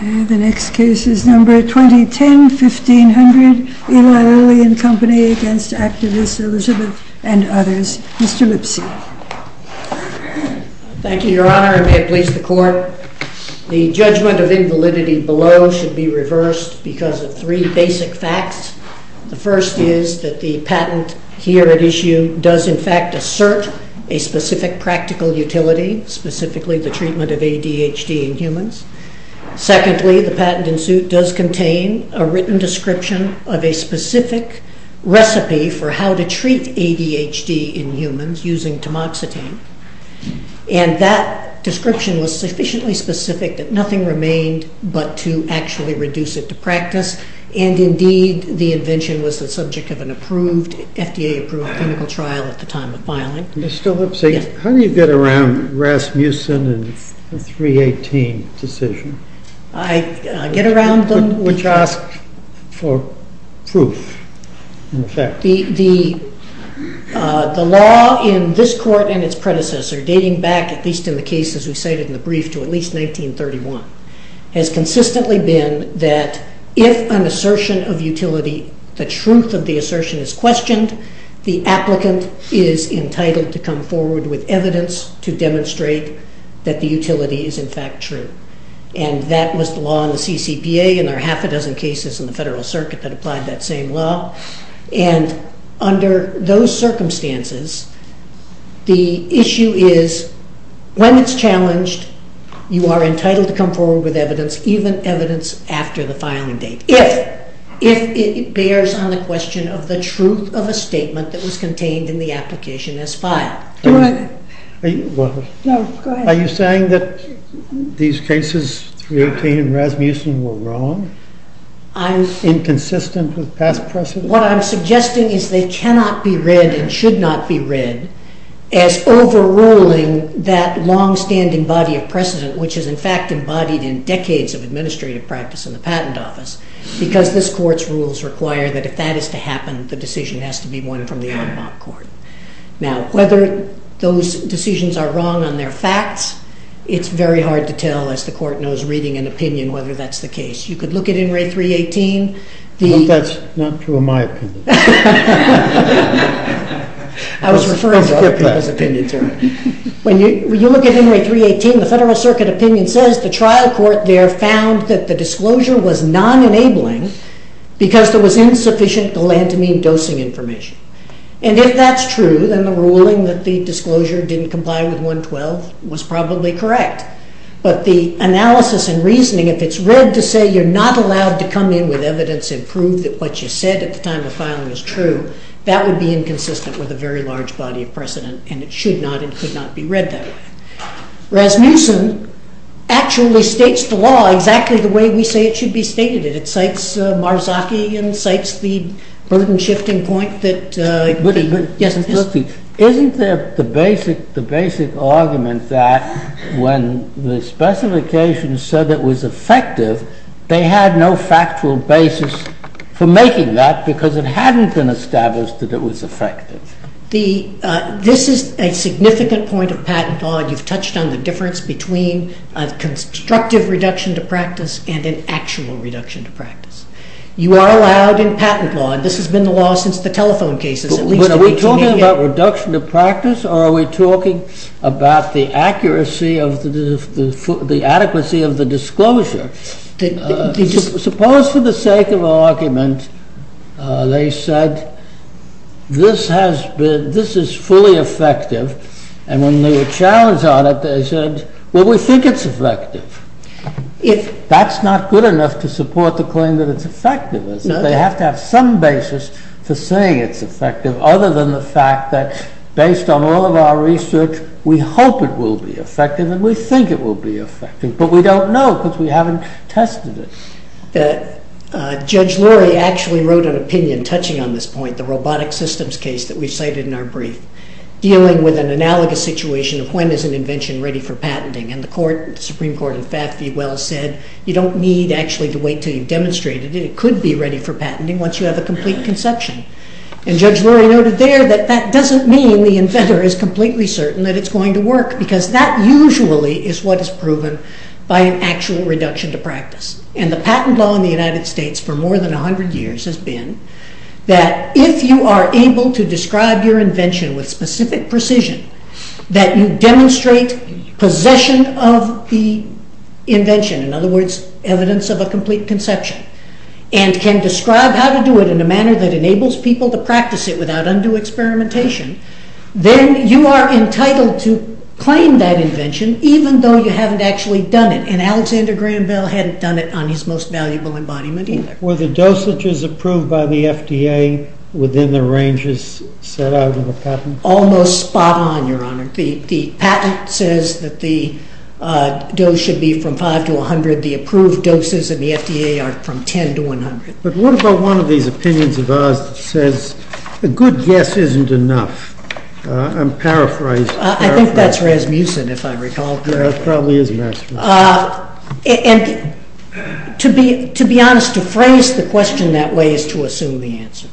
The next case is number 2010-1500. Eli Lilly and Company v. Actavis, Elizabeth, and others. Mr. Lipsy. Thank you, Your Honor, and may it please the Court. The judgment of invalidity below should be reversed because of three basic facts. The first is that the patent here at issue does, in fact, assert a specific practical utility, specifically the treatment of ADHD in humans. Secondly, the patent in suit does contain a written description of a specific recipe for how to treat ADHD in humans using tamoxetine, and that description was sufficiently specific that nothing remained but to actually reduce it to practice, and indeed the invention was the subject of an FDA-approved clinical trial at the time of filing. Mr. Lipsy, how do you get around Rasmussen and the 318 decision? I get around them. Which asks for proof, in effect. The law in this Court and its predecessor, dating back, at least in the cases we cited in the brief, to at least 1931, has consistently been that if an assertion of utility, the truth of the assertion is questioned, the applicant is entitled to come forward with evidence to demonstrate that the utility is, in fact, true, and that was the law in the CCPA, and there are half a dozen cases in the Federal Circuit that applied that same law, and under those circumstances, the issue is, when it's challenged, you are entitled to come forward with evidence, even evidence after the filing date, if it bears on the question of the truth of a statement that was contained in the application as filed. Are you saying that these cases, 318 and Rasmussen, were wrong, inconsistent with past precedent? What I'm suggesting is they cannot be read, and should not be read, as overruling that long-standing body of precedent, which is, in fact, embodied in decades of administrative practice in the Patent Office, because this Court's rules require that if that is to happen, the decision has to be won from the en banc court. Now, whether those decisions are wrong on their facts, it's very hard to tell, as the Court knows, reading an opinion, whether that's the case. You could look at In re 318, the Federal Circuit opinion says the trial court there found that the disclosure was non-enabling, because there was insufficient galantamine dosing information, and if that's true, then the ruling that the disclosure didn't comply with 112 was probably correct. But the analysis and reasoning, if it's read to say you're not allowed to come in with evidence and prove that what you said at the time of filing was true, that would be inconsistent with a very large body of precedent, and it should not and could not be read that way. Rasmussen actually states the law exactly the way we say it should be stated. It cites Marzocchi and cites the burden-shifting point that... Yes. Isn't there the basic argument that when the specifications said it was effective, they had no factual basis for making that, because it hadn't been established that it was effective? This is a significant point of patent law, and you've touched on the difference between a constructive reduction to practice and an actual reduction to practice. You are allowed in patent law, and this has been the law since the telephone cases, at Are we talking about reduction to practice, or are we talking about the accuracy of the adequacy of the disclosure? Suppose for the sake of argument, they said this is fully effective, and when they were challenged on it, they said, well, we think it's effective. That's not good enough to support the claim that it's effective, is it? They have to have some basis for saying it's effective, other than the fact that, based on all of our research, we hope it will be effective, and we think it will be effective, but we don't know, because we haven't tested it. Judge Lurie actually wrote an opinion touching on this point, the robotic systems case that we've cited in our brief, dealing with an analogous situation of when is an invention ready for patenting, and the Supreme Court, in fact, well said, you don't need actually to wait until you've demonstrated it, it could be ready for patenting once you have a complete conception, and Judge Lurie noted there that that doesn't mean the inventor is completely certain that it's going to work, because that usually is what is proven by an actual reduction to practice, and the patent law in the United States for more than a hundred years has been that if you are able to describe your invention with specific precision, that you demonstrate possession of the invention, in other words, evidence of a complete conception, and can describe how to do it in a manner that enables people to practice it without undue experimentation, then you are entitled to claim that invention, even though you haven't actually done it, and Alexander Graham Bell hadn't done it on his most valuable embodiment either. Were the dosages approved by the FDA within the ranges set out in the patent? Almost spot on, your honor. The patent says that the dose should be from 5 to 100, the approved doses in the FDA are from 10 to 100. But what about one of these opinions of ours that says a good guess isn't enough? I'm paraphrasing. I think that's Rasmussen, if I recall correctly. Yeah, it probably is Rasmussen. And to be honest, to phrase the question that way is to assume the answer.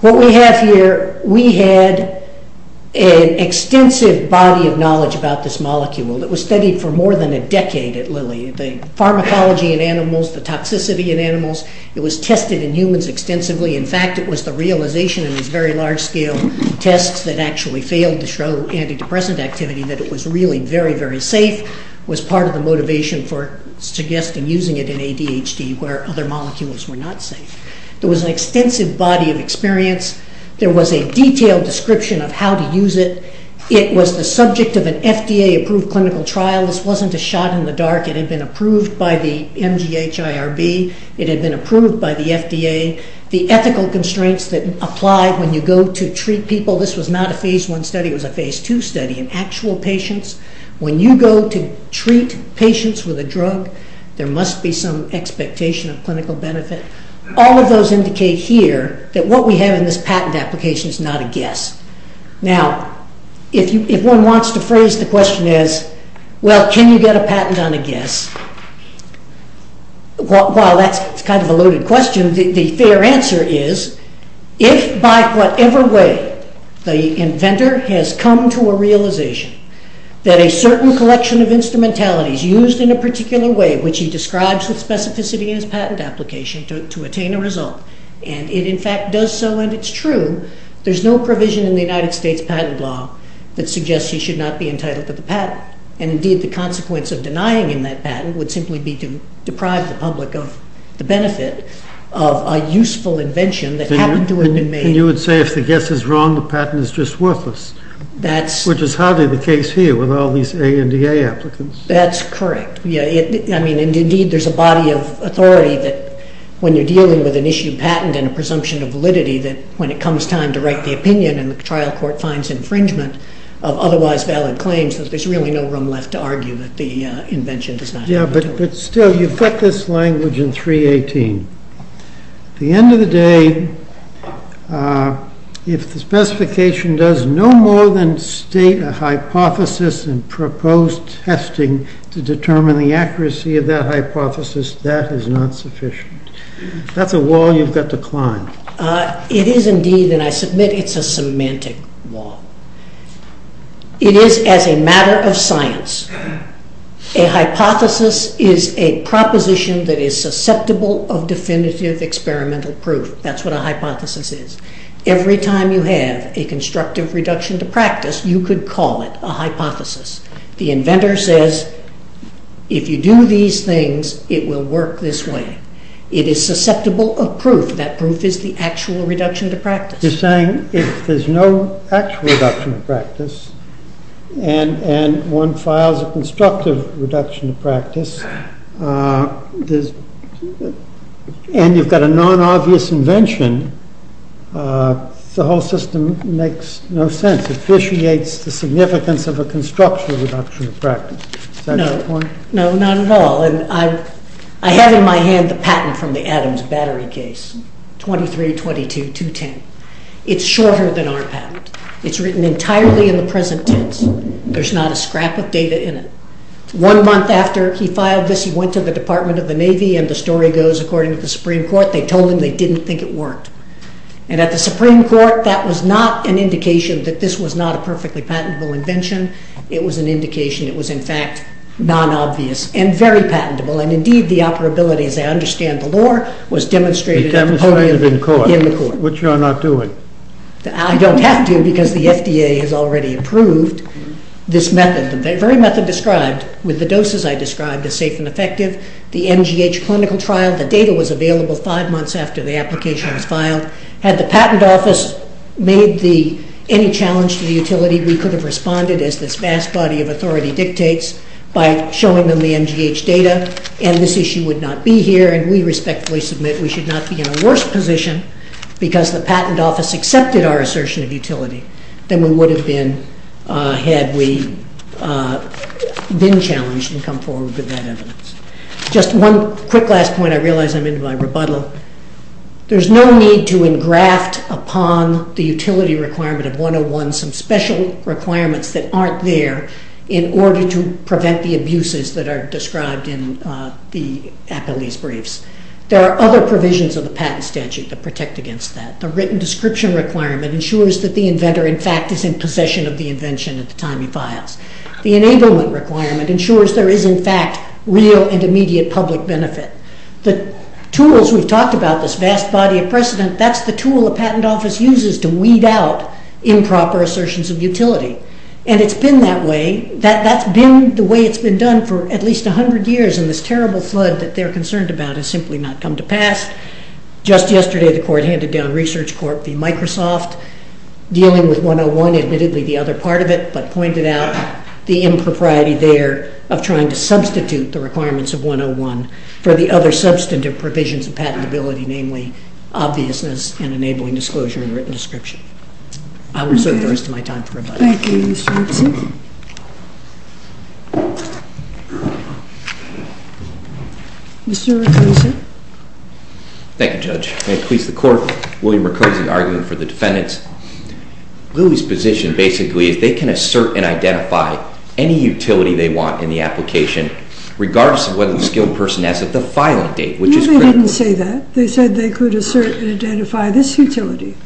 What we have here, we had an extensive body of knowledge about this molecule that was studied for more than a decade at Lilly, the pharmacology in animals, the toxicity in animals, it was tested in humans extensively, in fact it was the realization in these very large scale tests that actually failed to show antidepressant activity that it was really very, very safe, was part of the motivation for suggesting using it in ADHD where other molecules were not safe. There was an extensive body of experience, there was a detailed description of how to use it, it was the subject of an FDA approved clinical trial, this wasn't a shot in the dark, it had been approved by the MGH IRB, it had been approved by the FDA, the ethical constraints that apply when you go to treat people, this was not a phase 1 study, it was a phase 2 study in actual patients. When you go to treat patients with a drug, there must be some expectation of clinical benefit. All of those indicate here that what we have in this patent application is not a guess. Now if one wants to phrase the question as, well can you get a patent on a guess, while that's kind of a loaded question, the fair answer is, if by whatever way the inventor has come to a realization that a certain collection of instrumentalities used in a particular way, which he describes with specificity in his patent application, to attain a result, and it in fact does so and it's true, there's no provision in the United States patent law that suggests he should not be entitled to the patent, and indeed the consequence of denying him that patent would simply be to deprive the public of the benefit of a useful invention that happened to have been made. You would say if the guess is wrong, the patent is just worthless, which is hardly the case here with all these ANDA applicants. That's correct. Yeah, I mean, indeed there's a body of authority that when you're dealing with an issue patent and a presumption of validity, that when it comes time to write the opinion and the trial court finds infringement of otherwise valid claims, that there's really no room left to argue that the invention does not have validity. Yeah, but still, you've got this language in 318. The end of the day, if the specification does no more than state a hypothesis and propose testing to determine the accuracy of that hypothesis, that is not sufficient. That's a wall you've got to climb. It is indeed, and I submit it's a semantic wall. It is as a matter of science. A hypothesis is a proposition that is susceptible of definitive experimental proof. That's what a hypothesis is. Every time you have a constructive reduction to practice, you could call it a hypothesis. The inventor says, if you do these things, it will work this way. It is susceptible of proof. That proof is the actual reduction to practice. You're saying if there's no actual reduction to practice and one files a constructive reduction to practice, and you've got a non-obvious invention, the whole system makes no sense. That sufficiates the significance of a constructive reduction to practice. Is that your point? No, not at all. I have in my hand the patent from the Adams battery case, 2322210. It's shorter than our patent. It's written entirely in the present tense. There's not a scrap of data in it. One month after he filed this, he went to the Department of the Navy, and the story goes according to the Supreme Court, they told him they didn't think it worked. At the Supreme Court, that was not an indication that this was not a perfectly patentable invention. It was an indication. It was, in fact, non-obvious and very patentable, and indeed, the operability, as I understand the law, was demonstrated at the podium in the court. Which you are not doing. I don't have to, because the FDA has already approved this method, the very method described with the doses I described as safe and effective, the MGH clinical trial, the data was available five months after the application was filed. Had the patent office made any challenge to the utility, we could have responded, as this vast body of authority dictates, by showing them the MGH data, and this issue would not be here, and we respectfully submit we should not be in a worse position, because the patent office accepted our assertion of utility, than we would have been had we been challenged and come forward with that evidence. Just one quick last point, I realize I'm in my rebuttal. There's no need to engraft upon the utility requirement of 101 some special requirements that aren't there in order to prevent the abuses that are described in the appellee's briefs. There are other provisions of the patent statute that protect against that. The written description requirement ensures that the inventor, in fact, is in possession of the invention at the time he files. The enablement requirement ensures there is, in fact, real and immediate public benefit. The tools we've talked about, this vast body of precedent, that's the tool a patent office uses to weed out improper assertions of utility, and it's been that way, that's been the way it's been done for at least 100 years, and this terrible flood that they're concerned about has simply not come to pass. Just yesterday, the court handed down Research Corp v. Microsoft, dealing with 101, admittedly the other part of it, but pointed out the impropriety there of trying to substitute the requirements of 101 for the other substantive provisions of patentability, namely, obviousness and enabling disclosure in the written description. I will reserve the rest of my time for rebuttal. Thank you, Mr. Woodson. Mr. Murkowski? Thank you, Judge. May it please the Court, William Murkowski, arguing for the defendants. Lily's position, basically, is they can assert and identify any utility they want in the application, regardless of whether the skilled person has it at the filing date, which is critical. No, they didn't say that. They said they could assert and identify this utility.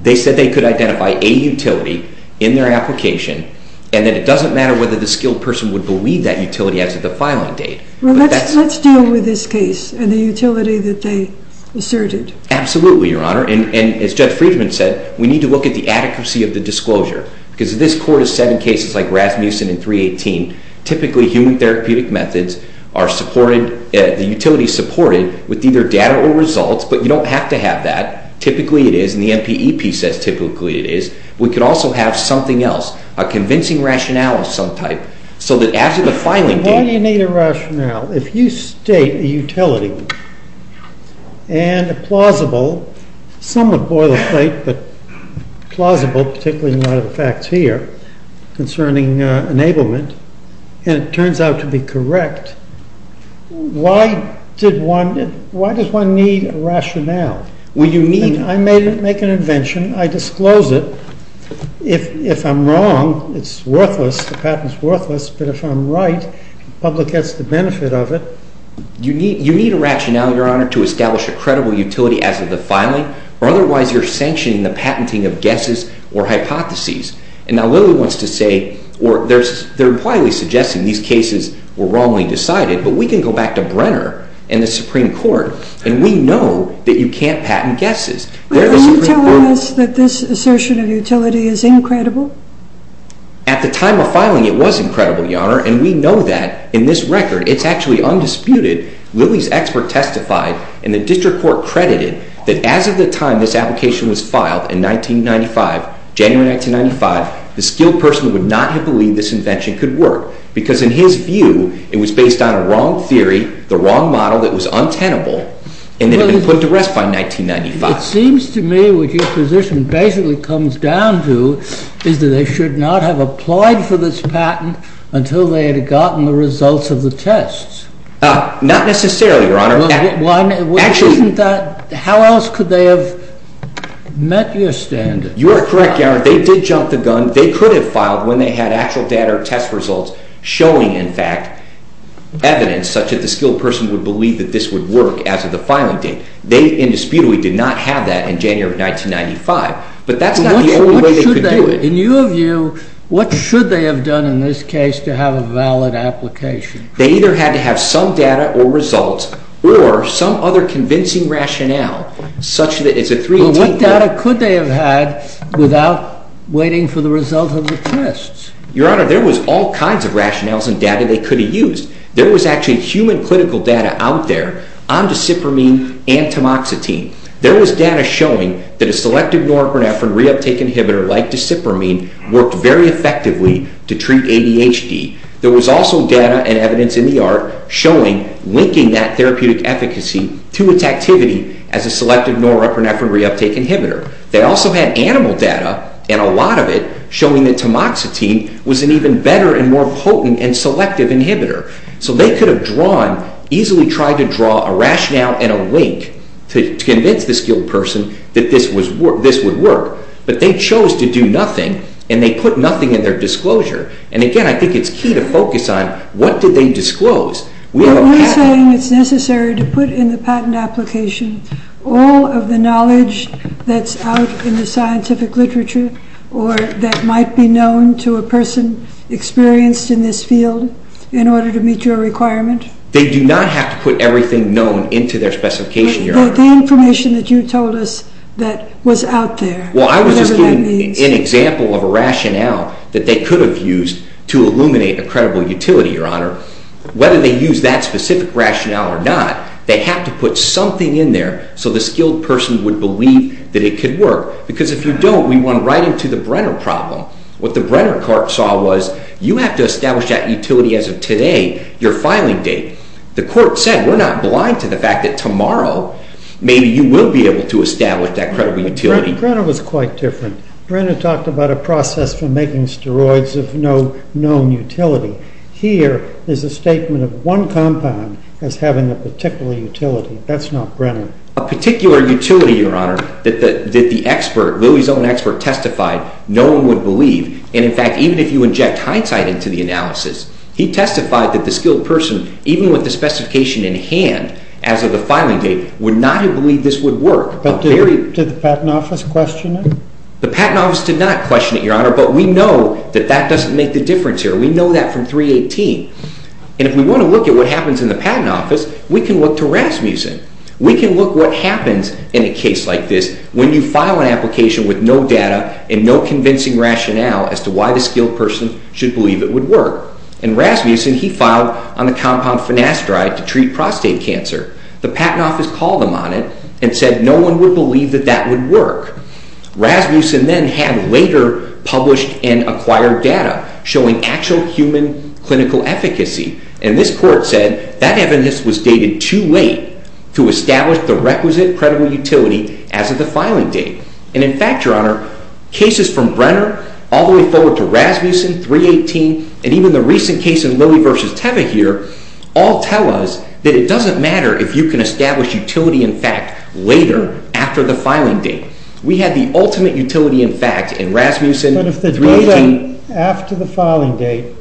They said they could identify a utility in their application, and that it doesn't matter whether the skilled person would believe that utility as of the filing date. Well, let's deal with this case and the utility that they asserted. Absolutely, Your Honor. And as Judge Friedman said, we need to look at the adequacy of the disclosure. Because this Court has said in cases like Rasmussen and 318, typically, human therapeutic methods are supported, the utility is supported, with either data or results, but you don't have to have that. Typically, it is. And the NPEP says typically it is. We could also have something else, a convincing rationale of some type, so that after the filing date- Some would boil the plate, but plausible, particularly in light of the facts here, concerning enablement. And it turns out to be correct. Why does one need a rationale? I make an invention. I disclose it. If I'm wrong, it's worthless, the patent's worthless, but if I'm right, the public gets the benefit of it. You need a rationale, Your Honor, to establish a credible utility as of the filing. Otherwise, you're sanctioning the patenting of guesses or hypotheses. And now Lilly wants to say, or they're impliedly suggesting these cases were wrongly decided, but we can go back to Brenner and the Supreme Court, and we know that you can't patent guesses. They're the Supreme Court- Are you telling us that this assertion of utility is incredible? At the time of filing, it was incredible, Your Honor, and we know that in this record. It's actually undisputed. Lilly's expert testified, and the district court credited, that as of the time this application was filed, in 1995, January 1995, the skilled person would not have believed this invention could work, because in his view, it was based on a wrong theory, the wrong model that was untenable, and it had been put to rest by 1995. It seems to me what your position basically comes down to is that they should not have applied for this patent until they had gotten the results of the tests. Not necessarily, Your Honor. Why not? Actually- How else could they have met your standards? You are correct, Your Honor. They did jump the gun. They could have filed when they had actual data or test results showing, in fact, evidence such that the skilled person would believe that this would work as of the filing date. They indisputably did not have that in January of 1995, but that's not the only way they could do it. In your view, what should they have done in this case to have a valid application? They either had to have some data or results, or some other convincing rationale such that it's a 318- Well, what data could they have had without waiting for the results of the tests? Your Honor, there was all kinds of rationales and data they could have used. There was actually human clinical data out there on dicipramine and tamoxetine. There was data showing that a selective norepinephrine reuptake inhibitor like dicipramine worked very effectively to treat ADHD. There was also data and evidence in the art showing, linking that therapeutic efficacy to its activity as a selective norepinephrine reuptake inhibitor. They also had animal data, and a lot of it, showing that tamoxetine was an even better and more potent and selective inhibitor. So they could have drawn, easily tried to draw a rationale and a link to convince the skilled person that this would work, but they chose to do nothing, and they put nothing in their disclosure. And again, I think it's key to focus on, what did they disclose? We have a patent- Are you saying it's necessary to put in the patent application all of the knowledge that's out in the scientific literature, or that might be known to a person experienced in this field, in order to meet your requirement? They do not have to put everything known into their specification, Your Honor. Well, I was just giving an example of a rationale that they could have used to illuminate a credible utility, Your Honor. Whether they use that specific rationale or not, they have to put something in there so the skilled person would believe that it could work. Because if you don't, we run right into the Brenner problem. What the Brenner court saw was, you have to establish that utility as of today, your filing date. The court said, we're not blind to the fact that tomorrow, maybe you will be able to establish that credible utility. Brenner was quite different. Brenner talked about a process for making steroids of no known utility. Here is a statement of one compound as having a particular utility. That's not Brenner. A particular utility, Your Honor, that the expert, Louie's own expert, testified no one would believe. And in fact, even if you inject hindsight into the analysis, he testified that the skilled person, even with the specification in hand, as of the filing date, would not have believed this would work. But did the Patent Office question it? The Patent Office did not question it, Your Honor, but we know that that doesn't make the difference here. We know that from 318. And if we want to look at what happens in the Patent Office, we can look to Rasmussen. We can look what happens in a case like this when you file an application with no data and no convincing rationale as to why the skilled person should believe it would work. And Rasmussen, he filed on the compound finasteride to treat prostate cancer. The Patent Office called him on it and said no one would believe that that would work. Rasmussen then had later published and acquired data showing actual human clinical efficacy. And this court said that evidence was dated too late to establish the requisite credible utility as of the filing date. And in fact, Your Honor, cases from Brenner all the way forward to Rasmussen, 318, and you can establish utility in fact later, after the filing date. We had the ultimate utility in fact in Rasmussen, 318. But if the data after the filing date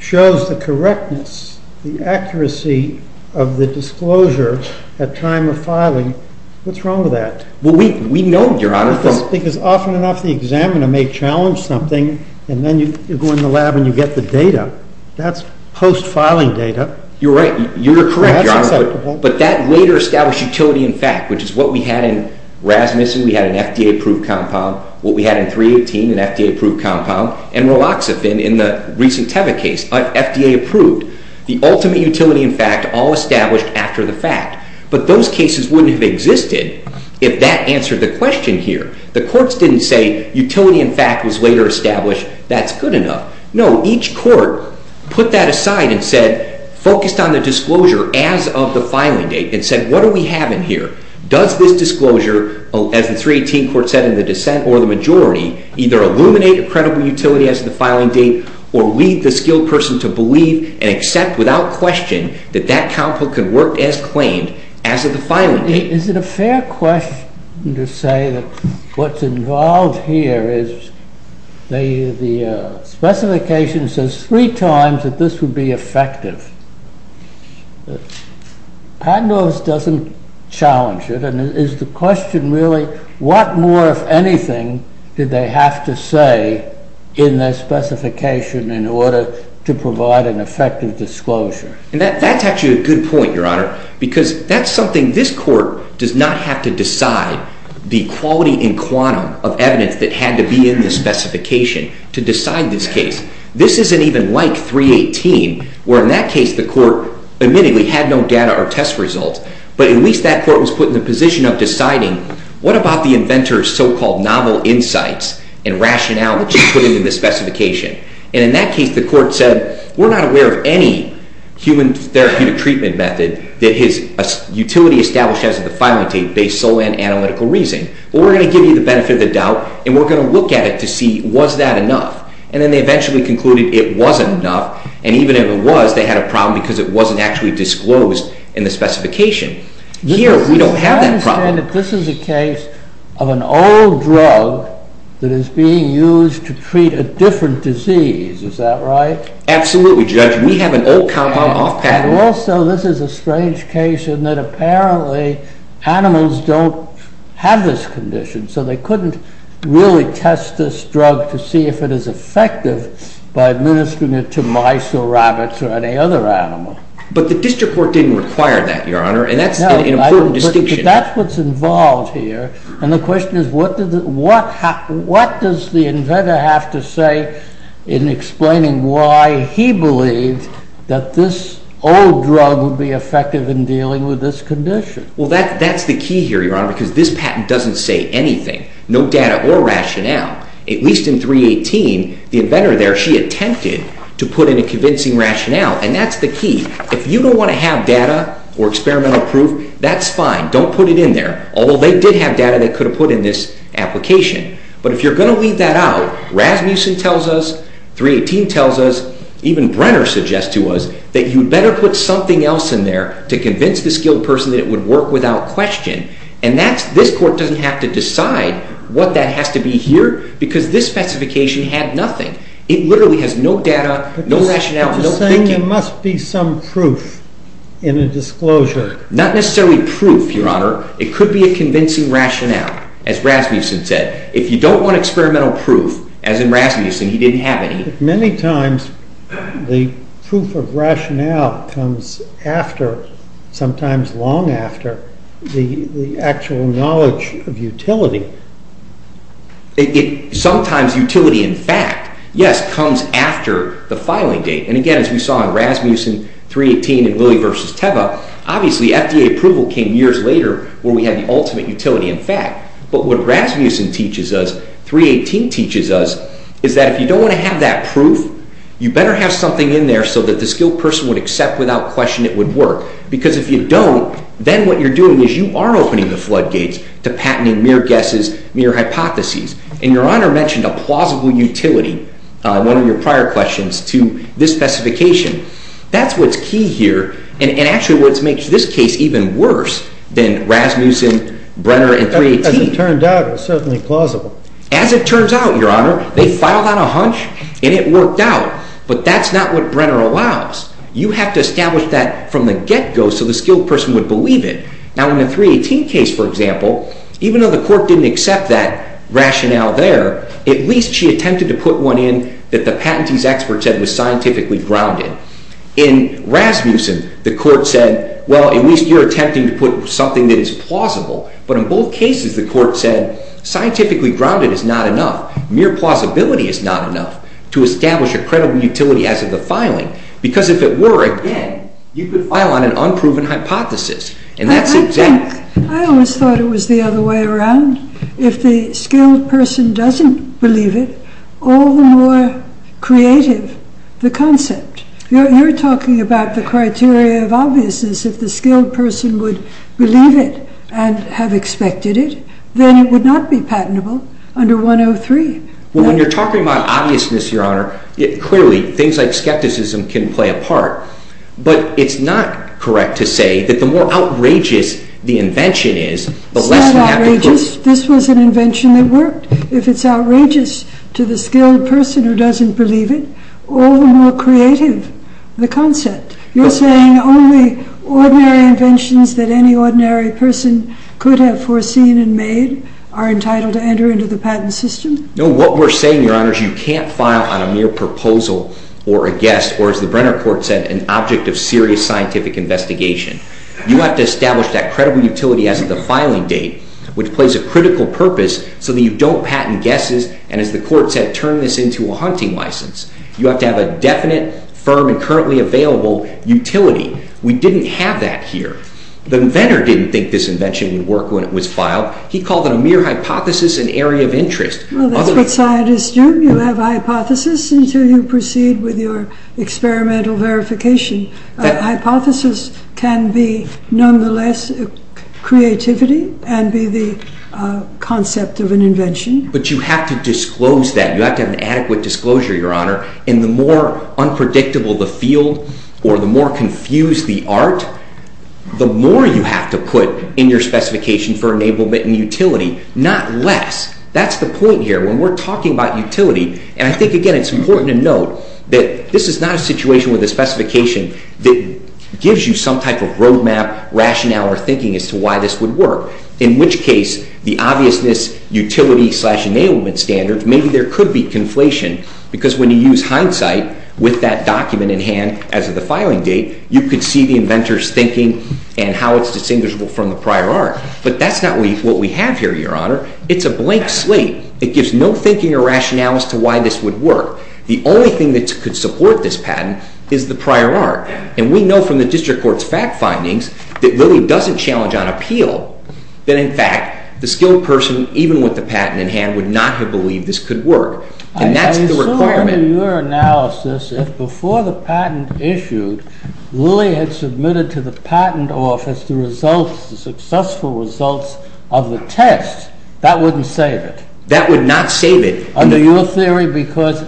shows the correctness, the accuracy of the disclosure at time of filing, what's wrong with that? Well, we know, Your Honor, from Because often enough the examiner may challenge something and then you go in the lab and you get the data. That's post-filing data. You're right. You're correct, Your Honor. That's acceptable. But that later established utility in fact, which is what we had in Rasmussen. We had an FDA-approved compound, what we had in 318, an FDA-approved compound, and raloxifen in the recent Teva case, FDA-approved. The ultimate utility in fact, all established after the fact. But those cases wouldn't have existed if that answered the question here. The courts didn't say utility in fact was later established. That's good enough. No, each court put that aside and said, focused on the disclosure as of the filing date and said, what do we have in here? Does this disclosure, as the 318 court said in the dissent or the majority, either illuminate a credible utility as of the filing date or lead the skilled person to believe and accept without question that that compound could work as claimed as of the filing date? Is it a fair question to say that what's involved here is the specification says three times that this would be effective. Padnos doesn't challenge it. And is the question really, what more, if anything, did they have to say in their specification in order to provide an effective disclosure? And that's actually a good point, Your Honor, because that's something this court does not have to decide the quality and quantum of evidence that had to be in the specification to decide this case. This isn't even like 318, where in that case the court admittedly had no data or test results. But at least that court was put in the position of deciding, what about the inventor's so-called novel insights and rationality put into the specification? And in that case, the court said, we're not aware of any human therapeutic treatment method that his utility established as of the filing date based solely on analytical reason. But we're going to give you the benefit of the doubt. And we're going to look at it to see, was that enough? And then they eventually concluded it wasn't enough. And even if it was, they had a problem because it wasn't actually disclosed in the specification. Here, we don't have that problem. This is a case of an old drug that is being used to treat a different disease. Is that right? Absolutely, Judge. We have an old compound off patent. Also, this is a strange case in that apparently animals don't have this condition. So they couldn't really test this drug to see if it is effective by administering it to mice or rabbits or any other animal. But the district court didn't require that, Your Honor. And that's an important distinction. That's what's involved here. And the question is, what does the inventor have to say in explaining why he believed that this old drug would be effective in dealing with this condition? Well, that's the key here, Your Honor, because this patent doesn't say anything. No data or rationale. At least in 318, the inventor there, she attempted to put in a convincing rationale. And that's the key. If you don't want to have data or experimental proof, that's fine. Don't put it in there. Although they did have data they could have put in this application. But if you're going to leave that out, Rasmussen tells us, 318 tells us, even Brenner suggests to us, that you'd better put something else in there to convince the skilled person that it would work without question. And this court doesn't have to decide what that has to be here, because this specification had nothing. It literally has no data, no rationale, no thinking. But you're saying there must be some proof in a disclosure. Not necessarily proof. It could be a convincing rationale, as Rasmussen said. If you don't want experimental proof, as in Rasmussen, he didn't have any. But many times, the proof of rationale comes after, sometimes long after, the actual knowledge of utility. Sometimes utility, in fact, yes, comes after the filing date. And again, as we saw in Rasmussen, 318, and Lilly v. Teva, obviously, FDA approval came years later, where we had the ultimate utility, in fact. But what Rasmussen teaches us, 318 teaches us, is that if you don't want to have that proof, you better have something in there so that the skilled person would accept without question it would work. Because if you don't, then what you're doing is you are opening the floodgates to patenting mere guesses, mere hypotheses. And Your Honor mentioned a plausible utility, one of your prior questions, to this specification. That's what's key here. And actually, what makes this case even worse than Rasmussen, Brenner, and 318. As it turned out, it was certainly plausible. As it turns out, Your Honor, they filed on a hunch, and it worked out. But that's not what Brenner allows. You have to establish that from the get-go so the skilled person would believe it. Now, in the 318 case, for example, even though the court didn't accept that rationale there, at least she attempted to put one in that the patentee's expert said was scientifically grounded. In Rasmussen, the court said, well, at least you're attempting to put something that is plausible. But in both cases, the court said, scientifically grounded is not enough. Mere plausibility is not enough to establish a credible utility as of the filing. Because if it were, again, you could file on an unproven hypothesis. And that's exactly. I always thought it was the other way around. If the skilled person doesn't believe it, all the more creative the concept. You're talking about the criteria of obviousness. If the skilled person would believe it and have expected it, then it would not be patentable under 103. Well, when you're talking about obviousness, Your Honor, clearly, things like skepticism can play a part. But it's not correct to say that the more outrageous the invention is, the less you have to prove. This was an invention that worked. If it's outrageous to the skilled person who doesn't believe it, all the more creative the concept. You're saying only ordinary inventions that any ordinary person could have foreseen and made are entitled to enter into the patent system? No. What we're saying, Your Honor, is you can't file on a mere proposal or a guess or, as the Brenner Court said, an object of serious scientific investigation. You have to establish that credible utility as of the filing date, which plays a critical purpose so that you don't patent guesses and, as the Court said, turn this into a hunting license. You have to have a definite, firm, and currently available utility. We didn't have that here. The inventor didn't think this invention would work when it was filed. He called it a mere hypothesis, an area of interest. Well, that's what scientists do. You have hypotheses until you proceed with your experimental verification. Hypothesis can be, nonetheless, creativity and be the concept of an invention. But you have to disclose that. You have to have an adequate disclosure, Your Honor. And the more unpredictable the field or the more confused the art, the more you have to put in your specification for enablement and utility, not less. That's the point here. When we're talking about utility, and I think, again, it's important to note that this is not a situation with a specification that gives you some type of roadmap, rationale, or thinking as to why this would work, in which case the obviousness, utility-slash-enablement standards, maybe there could be conflation because when you use hindsight with that document in hand as of the filing date, you could see the inventor's thinking and how it's distinguishable from the prior art. But that's not what we have here, Your Honor. It's a blank slate. It gives no thinking or rationale as to why this would work. The only thing that could support this patent is the prior art. And we know from the district court's fact findings that Lilly doesn't challenge on appeal, that in fact, the skilled person, even with the patent in hand, would not have believed this could work. And that's the requirement. I assume in your analysis, if before the patent issued, Lilly had submitted to the patent office the results, the successful results of the test, that wouldn't save it. That would not save it. Under your theory, because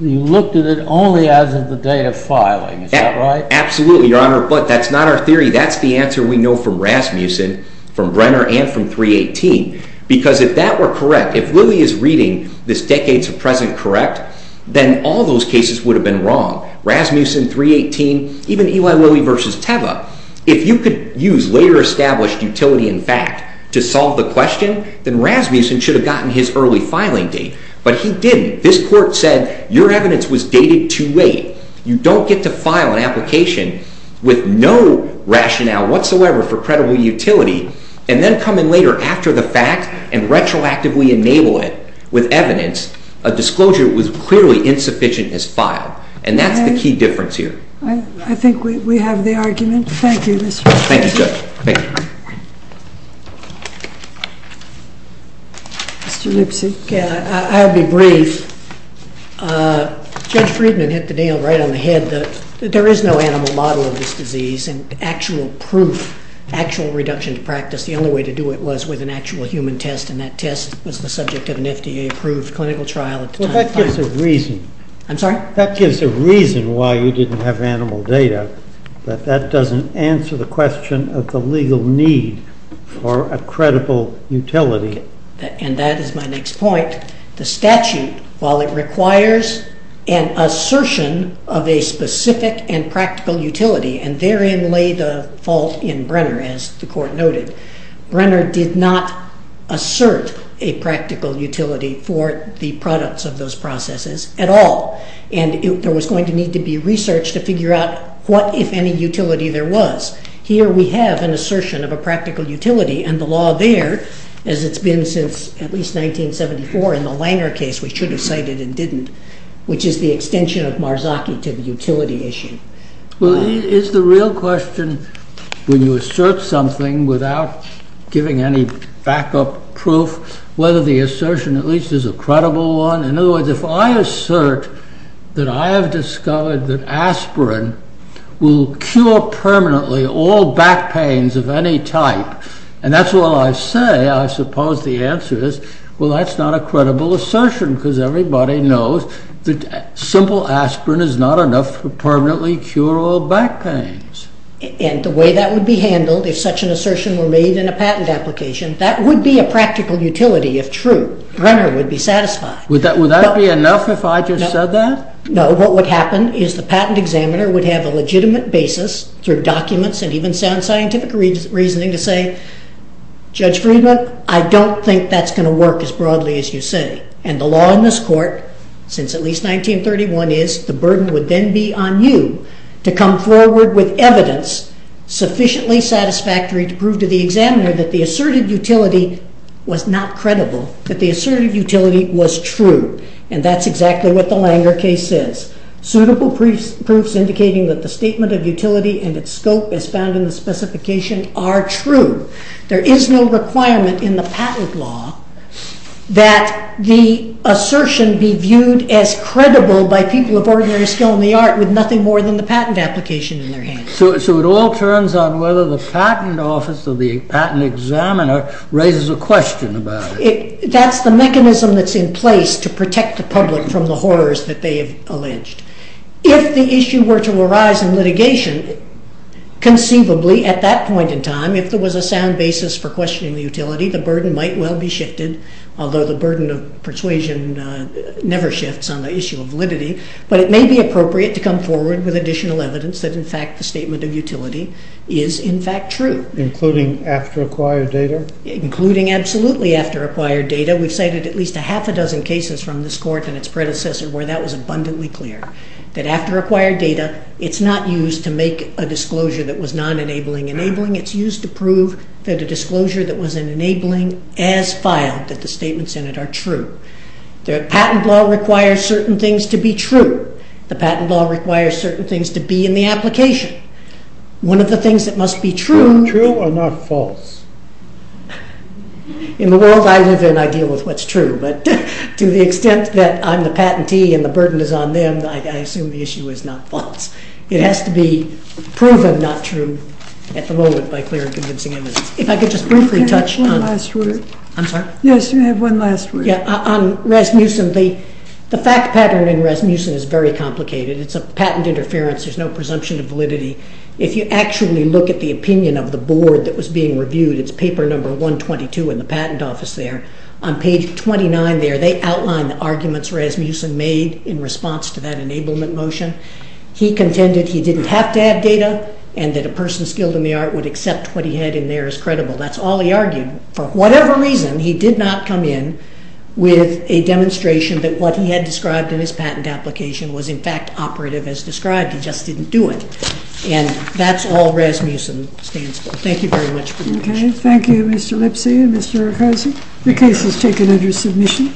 you looked at it only as of the date of filing. Is that right? Absolutely, Your Honor. But that's not our theory. That's the answer we know from Rasmussen, from Brenner, and from 318. Because if that were correct, if Lilly is reading this decades of present correct, then all those cases would have been wrong. Rasmussen, 318, even Eli Lilly versus Teva. If you could use later established utility and fact to solve the question, then Rasmussen should have gotten his early filing date. But he didn't. This court said, your evidence was dated 2-8. You don't get to file an application with no rationale whatsoever for credible utility and then come in later after the fact and retroactively enable it with evidence, a disclosure that was clearly insufficient as filed. And that's the key difference here. I think we have the argument. Thank you, Mr. Rasmussen. Thank you, Judge. Thank you. Mr. Lipsey. I'll be brief. Judge Friedman hit the nail right on the head that there is no animal model of this disease. And actual proof, actual reduction to practice, the only way to do it was with an actual human test. And that test was the subject of an FDA-approved clinical trial at the time. Well, that gives a reason. I'm sorry? That gives a reason why you didn't have animal data, that that doesn't answer the question of the legal need for a credible utility. And that is my next point. The statute, while it requires an assertion of a specific and practical utility, and therein lay the fault in Brenner, as the Court noted, Brenner did not assert a practical utility for the products of those processes at all. And there was going to need to be research to figure out what, if any, utility there was. Here we have an assertion of a practical utility. And the law there, as it's been since at least 1974 in the Langer case, which should have cited and didn't, which is the extension of Marzocchi to the utility issue. Well, is the real question, when you assert something without giving any backup proof, whether the assertion at least is a credible one? In other words, if I assert that I have discovered that aspirin will cure permanently all back pain type, and that's all I say, I suppose the answer is, well, that's not a credible assertion, because everybody knows that simple aspirin is not enough to permanently cure all back pains. And the way that would be handled, if such an assertion were made in a patent application, that would be a practical utility, if true. Brenner would be satisfied. Would that be enough if I just said that? No. What would happen is the patent examiner would have a legitimate basis through documents and even sound scientific reasoning to say, Judge Friedman, I don't think that's going to work as broadly as you say. And the law in this court, since at least 1931, is the burden would then be on you to come forward with evidence sufficiently satisfactory to prove to the examiner that the asserted utility was not credible, that the asserted utility was true. And that's exactly what the Langer case says. Suitable proofs indicating that the statement of utility and its scope as found in the specification are true. There is no requirement in the patent law that the assertion be viewed as credible by people of ordinary skill in the art with nothing more than the patent application in their hands. So it all turns on whether the patent office or the patent examiner raises a question about it. That's the mechanism that's in place to protect the public from the horrors that they have alleged. If the issue were to arise in litigation, conceivably, at that point in time, if there was a sound basis for questioning the utility, the burden might well be shifted, although the burden of persuasion never shifts on the issue of validity, but it may be appropriate to come forward with additional evidence that, in fact, the statement of utility is, in fact, true. Including after acquired data? Including absolutely after acquired data. We've cited at least a half a dozen cases from this court and its predecessor where that was abundantly clear. That after acquired data, it's not used to make a disclosure that was non-enabling. Enabling, it's used to prove that a disclosure that was an enabling as filed, that the statements in it are true. The patent law requires certain things to be true. The patent law requires certain things to be in the application. One of the things that must be true... True or not false? In the world I live in, I deal with what's true, but to the extent that I'm the patentee and the burden is on them, I assume the issue is not false. It has to be proven not true at the moment by clear and convincing evidence. If I could just briefly touch on... You have one last word. I'm sorry? Yes, you have one last word. Yeah, on Rasmussen, the fact pattern in Rasmussen is very complicated. It's a patent interference. There's no presumption of validity. If you actually look at the opinion of the board that was being reviewed, it's paper number 122 in the patent office there. On page 29 there, they outline the arguments Rasmussen made in response to that enablement motion. He contended he didn't have to have data and that a person skilled in the art would accept what he had in there as credible. That's all he argued. For whatever reason, he did not come in with a demonstration that what he had described in his patent application was, in fact, operative as described. He just didn't do it. And that's all Rasmussen stands for. Thank you very much for your patience. Thank you, Mr. Lipsy and Mr. Riccosi. The case is taken under submission.